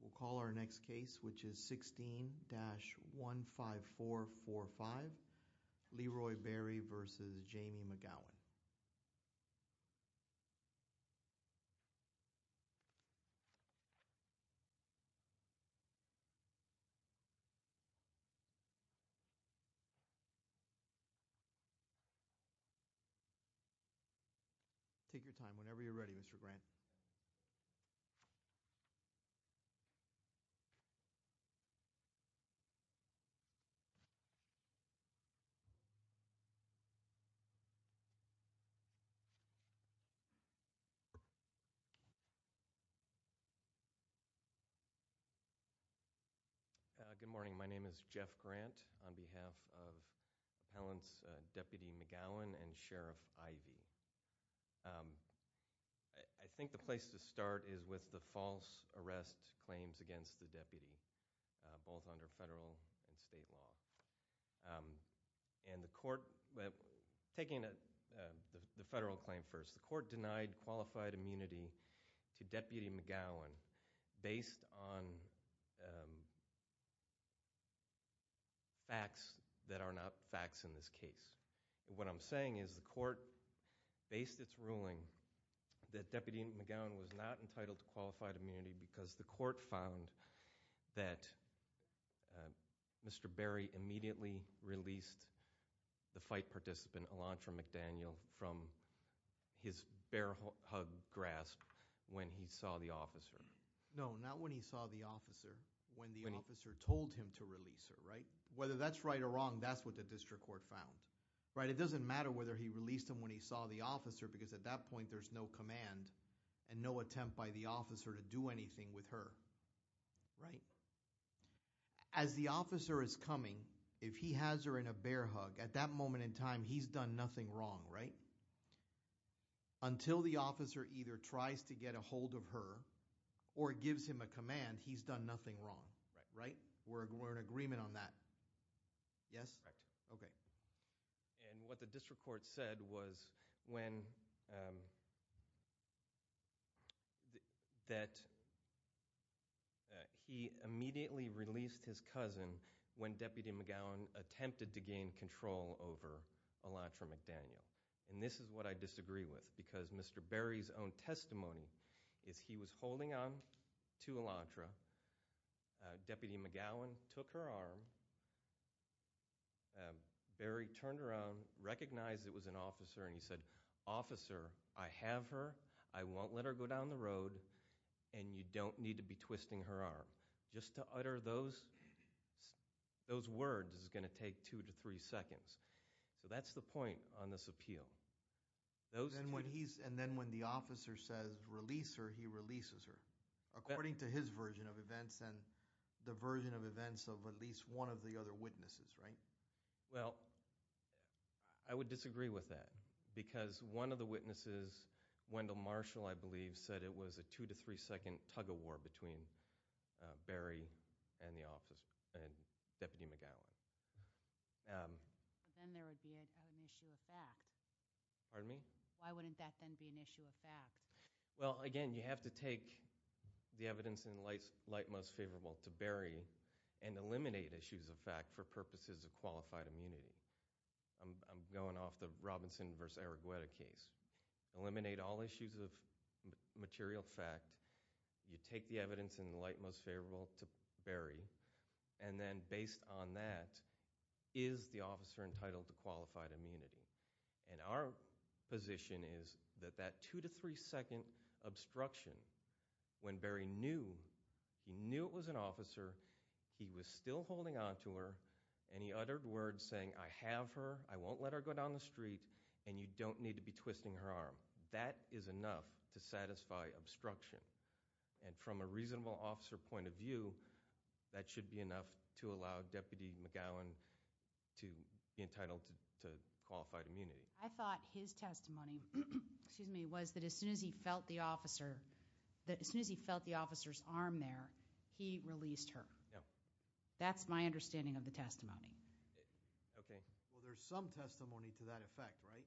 We'll call our next case which is 16-15445 Leroy Berry v. Jamie McGowan. Take your time whenever you're ready Mr. Grant. Good morning, my name is Jeff Grant on behalf of Appellants Deputy McGowan and Sheriff Ivey. I think the place to start is with the false arrest claims against the deputy, both under federal and state law. And the court, taking the federal claim first, the court denied qualified immunity to Deputy McGowan based on facts that are not facts in this case. The court based its ruling that Deputy McGowan was not entitled to qualified immunity because the court found that Mr. Berry immediately released the fight participant Elantra McDaniel from his bear hug grasp when he saw the officer. No, not when he saw the officer, when the officer told him to release her, right? Whether that's right or wrong, that's what the district court found, right? It doesn't matter whether he released him when he saw the officer because at that point there's no command and no attempt by the officer to do anything with her, right? As the officer is coming, if he has her in a bear hug, at that moment in time he's done nothing wrong, right? Until the officer either tries to get a hold of her or gives him a And what the district court said was that he immediately released his cousin when Deputy McGowan attempted to gain control over Elantra McDaniel. And this is what I disagree with because Mr. Berry's own testimony is he was holding on to Elantra, Deputy McGowan took her arm, Berry turned around, recognized it was an officer and he said, Officer, I have her, I won't let her go down the road and you don't need to be twisting her arm. Just to utter those words is going to take two to three seconds. So that's the point on this appeal. And then when the officer says release her, he releases her. According to his version of events and the version of events of at least one of the other witnesses, right? Well, I would disagree with that because one of the witnesses, Wendell Marshall, I believe said it was a two to three second tug of war between Berry and Deputy McGowan. Then there would be an issue of fact. Pardon me? Why wouldn't that then be an issue of fact? Well, again, you have to take the evidence in light most favorable to Berry and eliminate issues of fact for purposes of qualified immunity. I'm going off the Robinson versus Arregueta case. Eliminate all issues of material fact. You take the evidence in light most favorable to Berry. And then based on that, is the officer entitled to qualified immunity? And our position is that that two to three second obstruction, when Berry knew, he knew it was an officer, he was still holding on to her, and he uttered words saying I have her, I won't let her go down the street, and you don't need to be twisting her arm. That is enough to satisfy obstruction. And from a reasonable officer point of view, that should be enough to allow Deputy McGowan to be entitled to qualified immunity. I thought his testimony, excuse me, was that as soon as he felt the officer's arm there, he released her. That's my understanding of the testimony. Okay. Well, there's some testimony to that effect, right?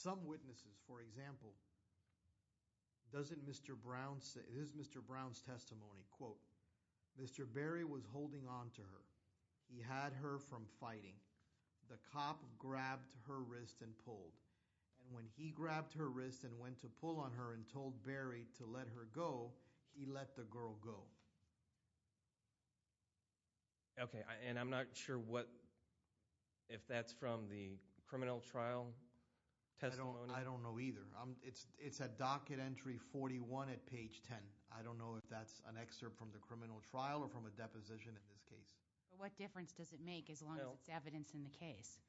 Some witnesses, for example, doesn't Mr. Brown say, this is Mr. Brown's testimony, quote, Mr. Berry was holding on to her. He had her from fighting. The cop grabbed her wrist and pulled. And when he grabbed her wrist and went to pull on her and told Berry to let her go, he let the girl go. Okay. And I'm not sure what, if that's from the criminal trial testimony? I don't know either. It's at docket entry 41 at page 10. I don't know if that's an excerpt from the criminal trial or from a deposition in this case. What difference does it make as long as it's evidence in the case?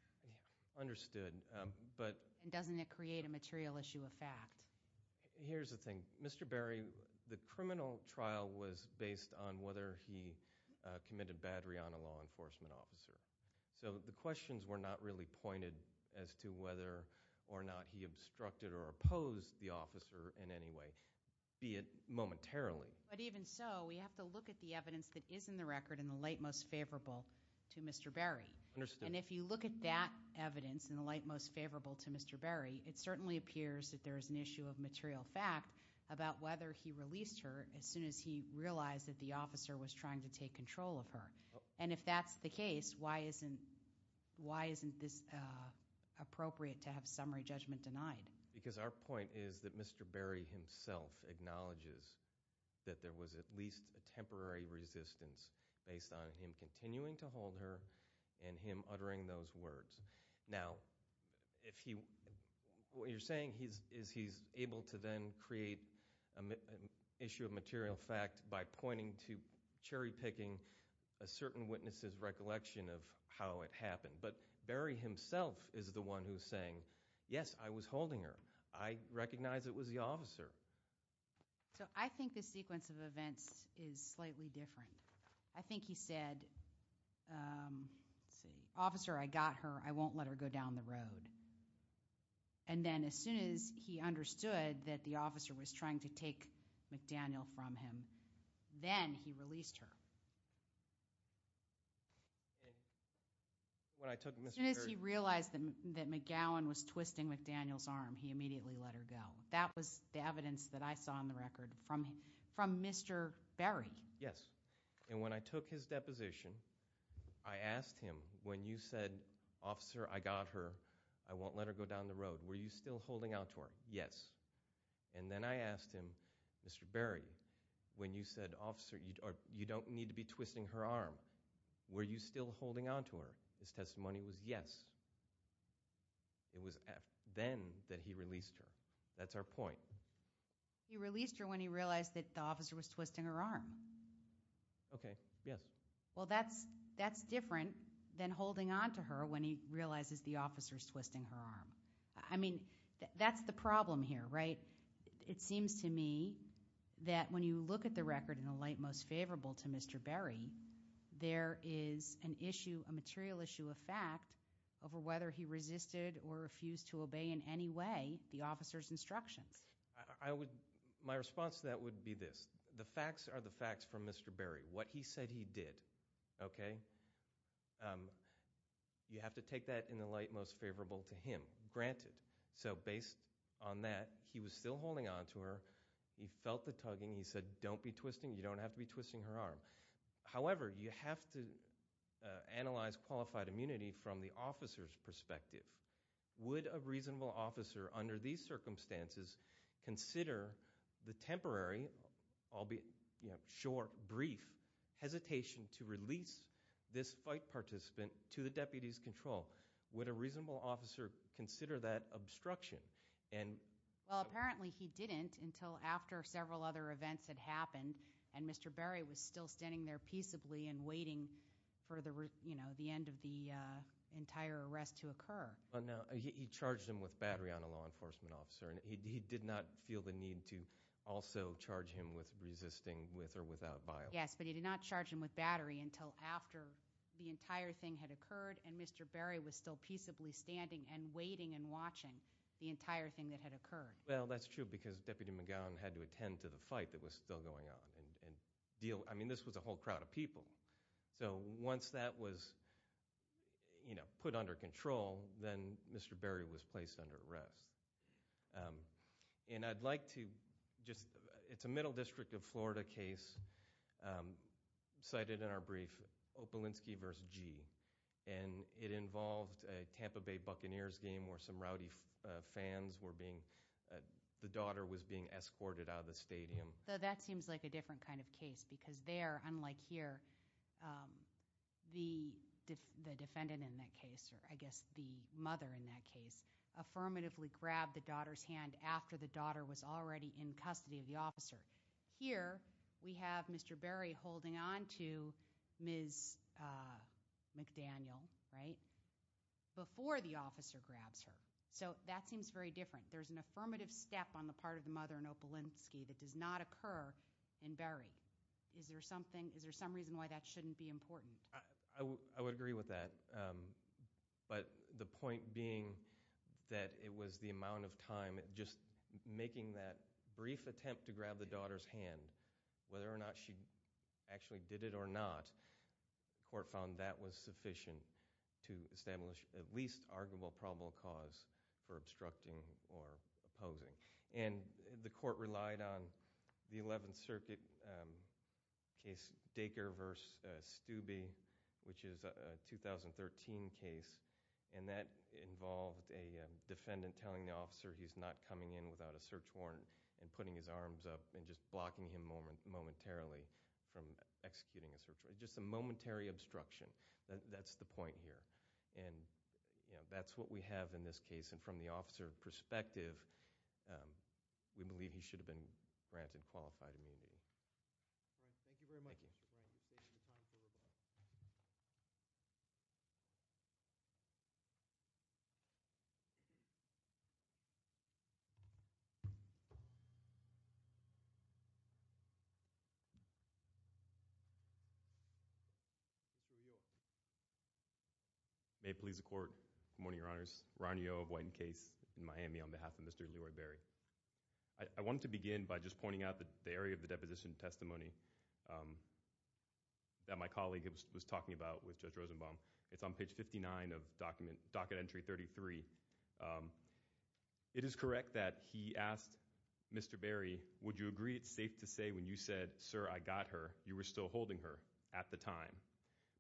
Understood. And doesn't it create a material issue of fact? Here's the thing. Mr. Berry, the criminal trial was based on whether he committed battery on a law enforcement officer. So the questions were not really pointed as to whether or not he obstructed or opposed the officer in any way, be it momentarily. But even so, we have to look at the evidence that is in the record in the light most favorable to Mr. Berry. Understood. And if you look at that evidence in the light most favorable to Mr. Berry, it certainly appears that there is an issue of material fact about whether he released her as soon as he realized that the officer was trying to take control of her. And if that's the case, why isn't this appropriate to have summary judgment denied? Because our point is that Mr. Berry himself acknowledges that there was at least a temporary resistance based on him continuing to hold her and him uttering those words. Now, what you're saying is he's able to then create an issue of material fact by pointing to cherry-picking a certain witness's recollection of how it happened. But Berry himself is the one who's saying, yes, I was holding her. I recognize it was the officer. So I think the sequence of events is slightly different. I think he said, let's see, officer, I got her. I won't let her go down the road. And then as soon as he understood that the officer was trying to take McDaniel from him, then he released her. As soon as he realized that McGowan was twisting McDaniel's arm, he immediately let her go. That was the evidence that I saw on the record from Mr. Berry. Yes. And when I took his deposition, I asked him, when you said, officer, I got her, I won't let her go down the road, were you still holding out to her? Yes. And then I asked him, Mr. Berry, when you said, officer, you don't need to be twisting her arm, were you still holding on to her? His testimony was yes. It was then that he released her. That's our point. He released her when he realized that the officer was twisting her arm. Okay, yes. Well, that's different than holding on to her when he realizes the officer is twisting her arm. I mean, that's the problem here, right? It seems to me that when you look at the record in the light most favorable to Mr. Berry, there is an issue, a material issue of fact over whether he resisted or refused to obey in any way the officer's instructions. My response to that would be this. The facts are the facts from Mr. Berry. What he said he did, okay, you have to take that in the light most favorable to him. Granted. So based on that, he was still holding on to her. He felt the tugging. He said don't be twisting. You don't have to be twisting her arm. However, you have to analyze qualified immunity from the officer's perspective. Would a reasonable officer under these circumstances consider the temporary, albeit short, brief, hesitation to release this fight participant to the deputy's control? Would a reasonable officer consider that obstruction? Well, apparently he didn't until after several other events had happened, and Mr. Berry was still standing there peaceably and waiting for the end of the entire arrest to occur. He charged him with battery on a law enforcement officer, and he did not feel the need to also charge him with resisting with or without violence. Yes, but he did not charge him with battery until after the entire thing had occurred and Mr. Berry was still peaceably standing and waiting and watching the entire thing that had occurred. Well, that's true because Deputy McGowan had to attend to the fight that was still going on and deal. I mean this was a whole crowd of people. So once that was put under control, then Mr. Berry was placed under arrest. And I'd like to just – it's a Middle District of Florida case cited in our brief, Opolinsky v. G. And it involved a Tampa Bay Buccaneers game where some rowdy fans were being – the daughter was being escorted out of the stadium. So that seems like a different kind of case because there, unlike here, the defendant in that case, or I guess the mother in that case, affirmatively grabbed the daughter's hand after the daughter was already in custody of the officer. Here we have Mr. Berry holding on to Ms. McDaniel, right, before the officer grabs her. So that seems very different. There's an affirmative step on the part of the mother in Opolinsky that does not occur in Berry. Is there something – is there some reason why that shouldn't be important? I would agree with that. But the point being that it was the amount of time, just making that brief attempt to grab the daughter's hand, whether or not she actually did it or not, the court found that was sufficient to establish at least arguable probable cause for obstructing or opposing. And the court relied on the 11th Circuit case Dacre v. Stubbe, which is a 2013 case, and that involved a defendant telling the officer he's not coming in without a search warrant and putting his arms up and just blocking him momentarily from executing a search warrant, just a momentary obstruction. That's the point here. And that's what we have in this case. And from the officer's perspective, we believe he should have been granted qualified immunity. All right. Thank you very much. Thank you. Good morning, Your Honors. Ron Yeo of Whiten Case in Miami on behalf of Mr. Leroy Berry. I wanted to begin by just pointing out the area of the deposition testimony that my colleague was talking about with Judge Rosenbaum. It's on page 59 of docket entry 33. It is correct that he asked Mr. Berry, would you agree it's safe to say when you said, sir, I got her, you were still holding her at the time.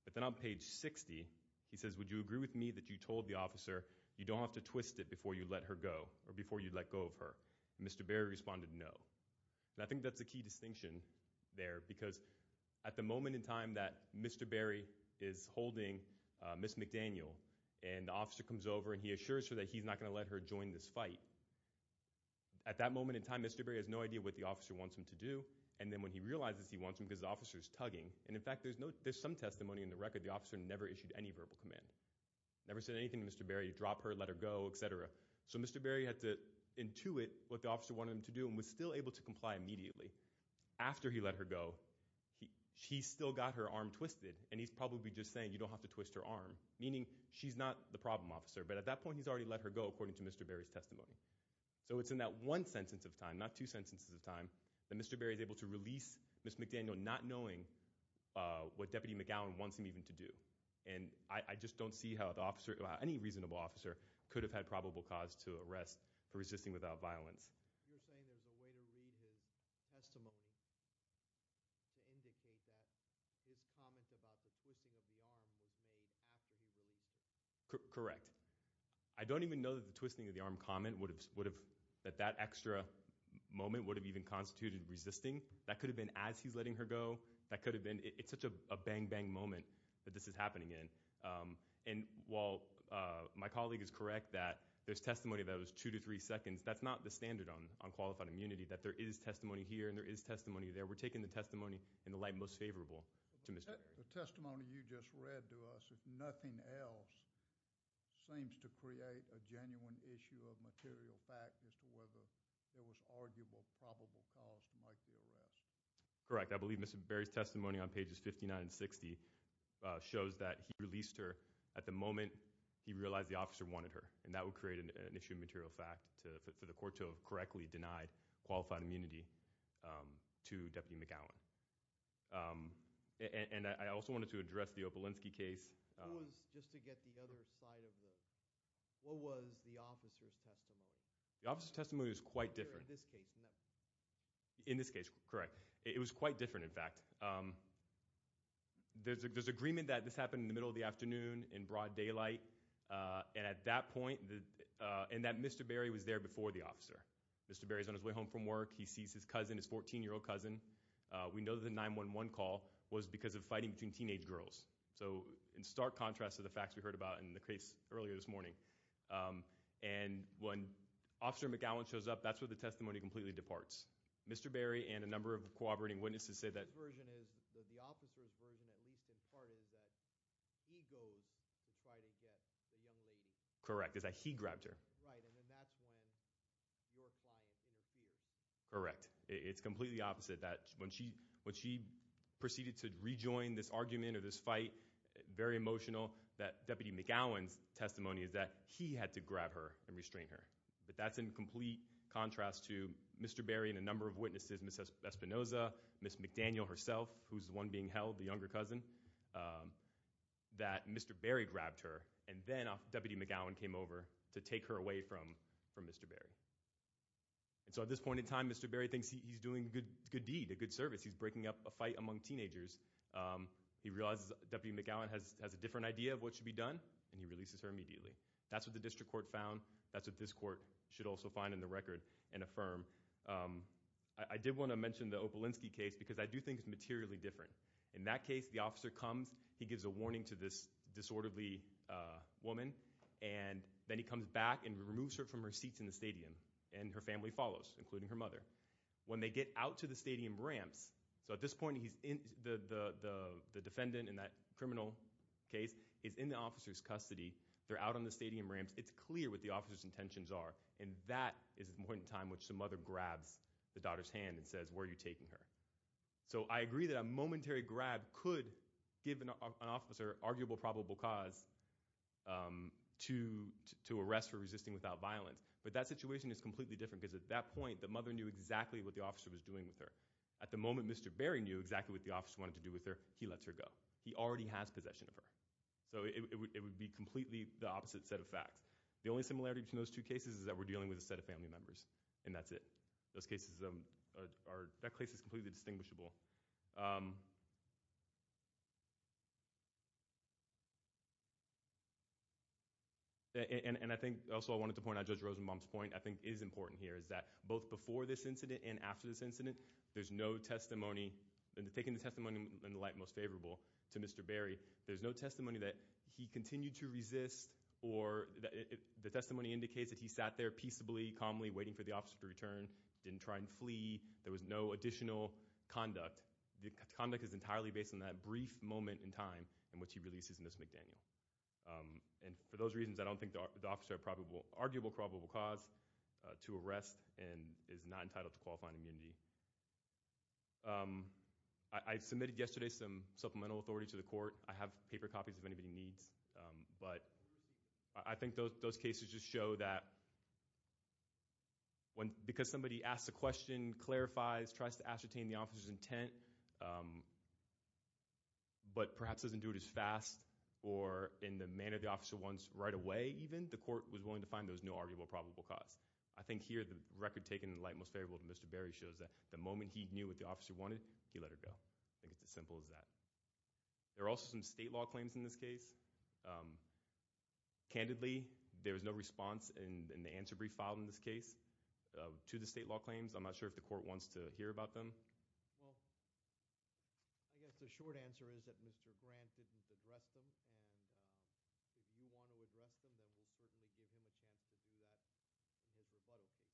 But then on page 60, he says, would you agree with me that you told the officer, you don't have to twist it before you let her go or before you let go of her. And Mr. Berry responded no. And I think that's a key distinction there because at the moment in time that Mr. Berry is holding Ms. McDaniel and the officer comes over and he assures her that he's not going to let her join this fight, at that moment in time Mr. Berry has no idea what the officer wants him to do, and then when he realizes he wants him because the officer is tugging. And in fact there's some testimony in the record the officer never issued any verbal command, never said anything to Mr. Berry, drop her, let her go, et cetera. So Mr. Berry had to intuit what the officer wanted him to do and was still able to comply immediately. After he let her go, he still got her arm twisted and he's probably just saying you don't have to twist her arm, meaning she's not the problem officer. But at that point he's already let her go according to Mr. Berry's testimony. So it's in that one sentence of time, not two sentences of time, that Mr. Berry is able to release Ms. McDaniel not knowing what Deputy McGowan wants him even to do. And I just don't see how any reasonable officer could have had probable cause to arrest for resisting without violence. You're saying there's a way to read his testimony to indicate that his comment about the twisting of the arm was made after he released her? Correct. I don't even know that the twisting of the arm comment would have, that that extra moment would have even constituted resisting. That could have been as he's letting her go. That could have been, it's such a bang, bang moment that this is happening in. And while my colleague is correct that there's testimony that was two to three seconds, that's not the standard on qualified immunity, that there is testimony here and there is testimony there. We're taking the testimony in the light most favorable to Mr. Berry. The testimony you just read to us, if nothing else, seems to create a genuine issue of material fact as to whether there was arguable probable cause to make the arrest. Correct. I believe Mr. Berry's testimony on pages 59 and 60 shows that he released her at the moment he realized the officer wanted her. And that would create an issue of material fact for the court to have correctly denied qualified immunity to Deputy McGowan. And I also wanted to address the Opelinski case. Who was, just to get the other side of the, what was the officer's testimony? The officer's testimony was quite different. In this case. In this case, correct. It was quite different, in fact. There's agreement that this happened in the middle of the afternoon in broad daylight. And at that point, and that Mr. Berry was there before the officer. Mr. Berry's on his way home from work. He sees his cousin, his 14-year-old cousin. We know the 911 call was because of fighting between teenage girls. So in stark contrast to the facts we heard about in the case earlier this morning. And when Officer McGowan shows up, that's where the testimony completely departs. Mr. Berry and a number of corroborating witnesses say that. The officer's version, at least in part, is that he goes to try to get the young lady. Correct, is that he grabbed her. Right, and then that's when your client interferes. Correct. It's completely opposite. That when she proceeded to rejoin this argument or this fight, very emotional. That Deputy McGowan's testimony is that he had to grab her and restrain her. But that's in complete contrast to Mr. Berry and a number of witnesses. Ms. Espinoza, Ms. McDaniel herself, who's the one being held, the younger cousin. That Mr. Berry grabbed her, and then Deputy McGowan came over to take her away from Mr. Berry. So at this point in time, Mr. Berry thinks he's doing a good deed, a good service. He's breaking up a fight among teenagers. He realizes Deputy McGowan has a different idea of what should be done, and he releases her immediately. That's what the district court found. That's what this court should also find in the record and affirm. I did want to mention the Opelinski case because I do think it's materially different. In that case, the officer comes. He gives a warning to this disorderly woman, and then he comes back and removes her from her seats in the stadium. And her family follows, including her mother. When they get out to the stadium ramps, so at this point the defendant in that criminal case is in the officer's custody. They're out on the stadium ramps. It's clear what the officer's intentions are, and that is the point in time which the mother grabs the daughter's hand and says, where are you taking her? So I agree that a momentary grab could give an officer arguable probable cause to arrest for resisting without violence. But that situation is completely different because at that point, the mother knew exactly what the officer was doing with her. At the moment, Mr. Berry knew exactly what the officer wanted to do with her. He lets her go. He already has possession of her. So it would be completely the opposite set of facts. The only similarity between those two cases is that we're dealing with a set of family members, and that's it. Those cases are, that case is completely distinguishable. And I think also I wanted to point out Judge Rosenbaum's point, I think is important here, is that both before this incident and after this incident, there's no testimony, and taking the testimony in the light most favorable to Mr. Berry, there's no testimony that he continued to resist. The testimony indicates that he sat there peaceably, calmly, waiting for the officer to return, didn't try and flee. There was no additional conduct. The conduct is entirely based on that brief moment in time in which he releases Ms. McDaniel. And for those reasons, I don't think the officer had arguable probable cause to arrest and is not entitled to qualifying immunity. I submitted yesterday some supplemental authority to the court. I have paper copies if anybody needs. But I think those cases just show that because somebody asks a question, clarifies, tries to ascertain the officer's intent, but perhaps doesn't do it as fast or in the manner the officer wants right away even, the court was willing to find there was no arguable probable cause. I think here the record taken in the light most favorable to Mr. Berry shows that the moment he knew what the officer wanted, he let her go. I think it's as simple as that. There are also some state law claims in this case. Candidly, there was no response in the answer brief filed in this case to the state law claims. I'm not sure if the court wants to hear about them. Well, I guess the short answer is that Mr. Grant didn't address them. And if you want to address them, then we'll certainly give him a chance to do that in his rebuttal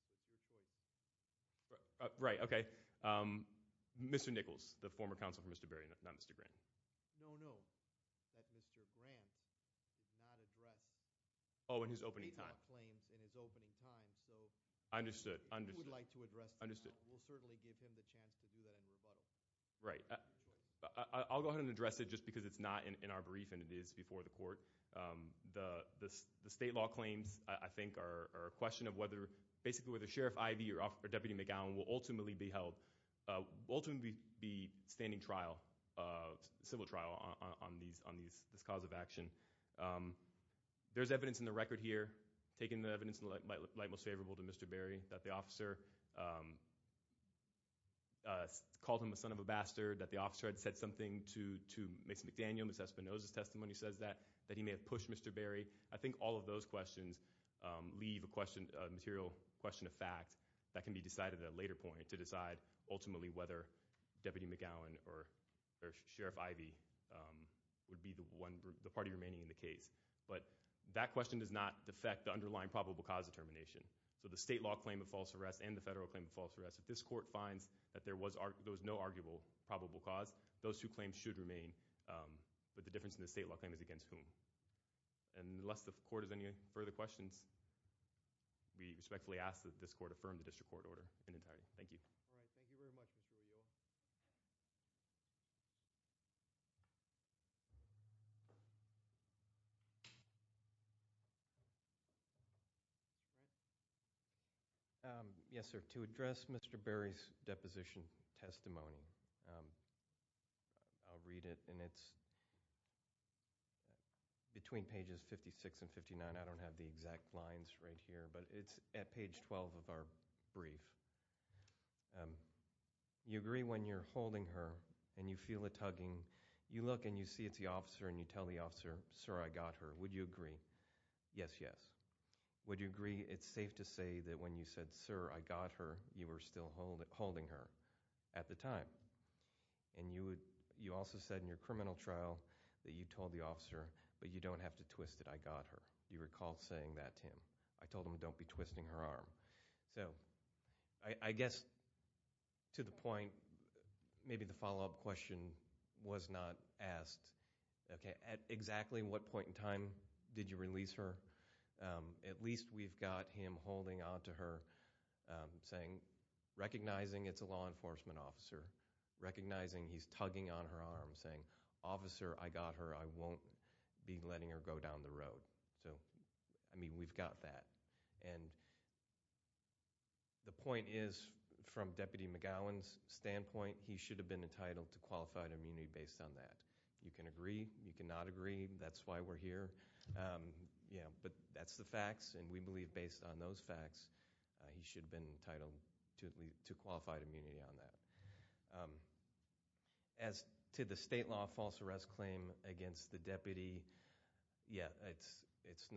case. It's your choice. Right, okay. Mr. Nichols, the former counsel for Mr. Berry, not Mr. Grant. No, no. That Mr. Grant did not address- Oh, in his opening time. State law claims in his opening time, so- Understood, understood. He would like to address them. Understood. We'll certainly give him the chance to do that in rebuttal. Right. The state law claims, I think, are a question of whether- Basically, whether Sheriff Ivey or Deputy McGowan will ultimately be held- will ultimately be standing civil trial on this cause of action. There's evidence in the record here, taking the evidence in the light most favorable to Mr. Berry, that the officer called him a son of a bastard, that the officer had said something to Mason McDaniel, Ms. Espinoza's testimony says that, that he may have pushed Mr. Berry. I think all of those questions leave a material question of fact that can be decided at a later point to decide ultimately whether Deputy McGowan or Sheriff Ivey would be the party remaining in the case. But that question does not defect the underlying probable cause determination. So the state law claim of false arrest and the federal claim of false arrest, if this court finds that there was no arguable probable cause, those two claims should remain. But the difference in the state law claim is against whom. And unless the court has any further questions, we respectfully ask that this court affirm the district court order in entirety. Thank you. All right. Thank you very much, Mr. O'Neill. Mr. O'Neill? Yes, sir. To address Mr. Berry's deposition testimony, I'll read it. And it's between pages 56 and 59. I don't have the exact lines right here, but it's at page 12 of our brief. You agree when you're holding her and you feel a tugging, you look and you see it's the officer and you tell the officer, sir, I got her. Would you agree? Yes, yes. Would you agree it's safe to say that when you said, sir, I got her, you were still holding her at the time? And you also said in your criminal trial that you told the officer, but you don't have to twist it, I got her. Do you recall saying that to him? I told him don't be twisting her arm. So I guess to the point, maybe the follow-up question was not asked. Okay. At exactly what point in time did you release her? At least we've got him holding onto her, saying, recognizing it's a law enforcement officer, recognizing he's tugging on her arm, saying, officer, I got her. I won't be letting her go down the road. So, I mean, we've got that. And the point is, from Deputy McGowan's standpoint, he should have been entitled to qualified immunity based on that. You can agree. You can not agree. That's why we're here. But that's the facts, and we believe based on those facts he should have been entitled to qualified immunity on that. As to the state law false arrest claim against the deputy, yeah, it's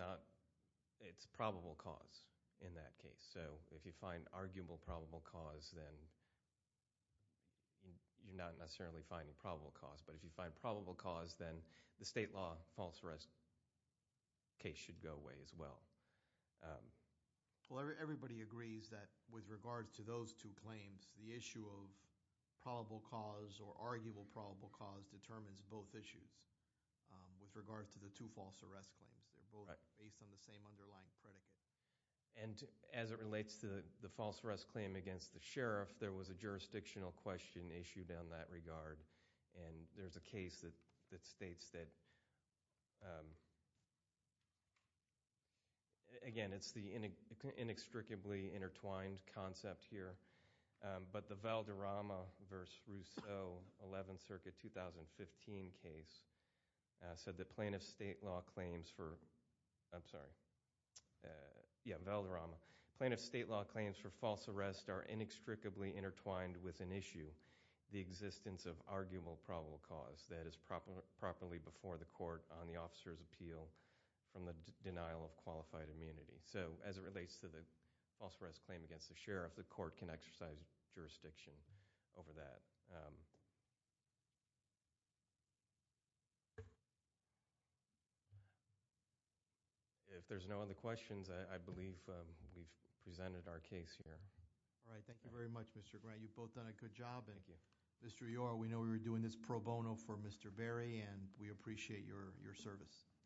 probable cause in that case. So if you find arguable probable cause, then you're not necessarily finding probable cause. But if you find probable cause, then the state law false arrest case should go away as well. Well, everybody agrees that with regards to those two claims, the issue of probable cause or arguable probable cause determines both issues with regards to the two false arrest claims. They're both based on the same underlying predicate. And as it relates to the false arrest claim against the sheriff, there was a jurisdictional question issued in that regard. And there's a case that states that, again, it's the inextricably intertwined concept here. But the Valderrama v. Rousseau 11th Circuit 2015 case said that plaintiff state law claims for false arrest are inextricably intertwined with an issue. The existence of arguable probable cause that is properly before the court on the officer's appeal from the denial of qualified immunity. So as it relates to the false arrest claim against the sheriff, the court can exercise jurisdiction over that. If there's no other questions, I believe we've presented our case here. All right, thank you very much, Mr. Grant. You've both done a good job. Thank you. Mr. Yor, we know we were doing this pro bono for Mr. Berry, and we appreciate your service. Thank you.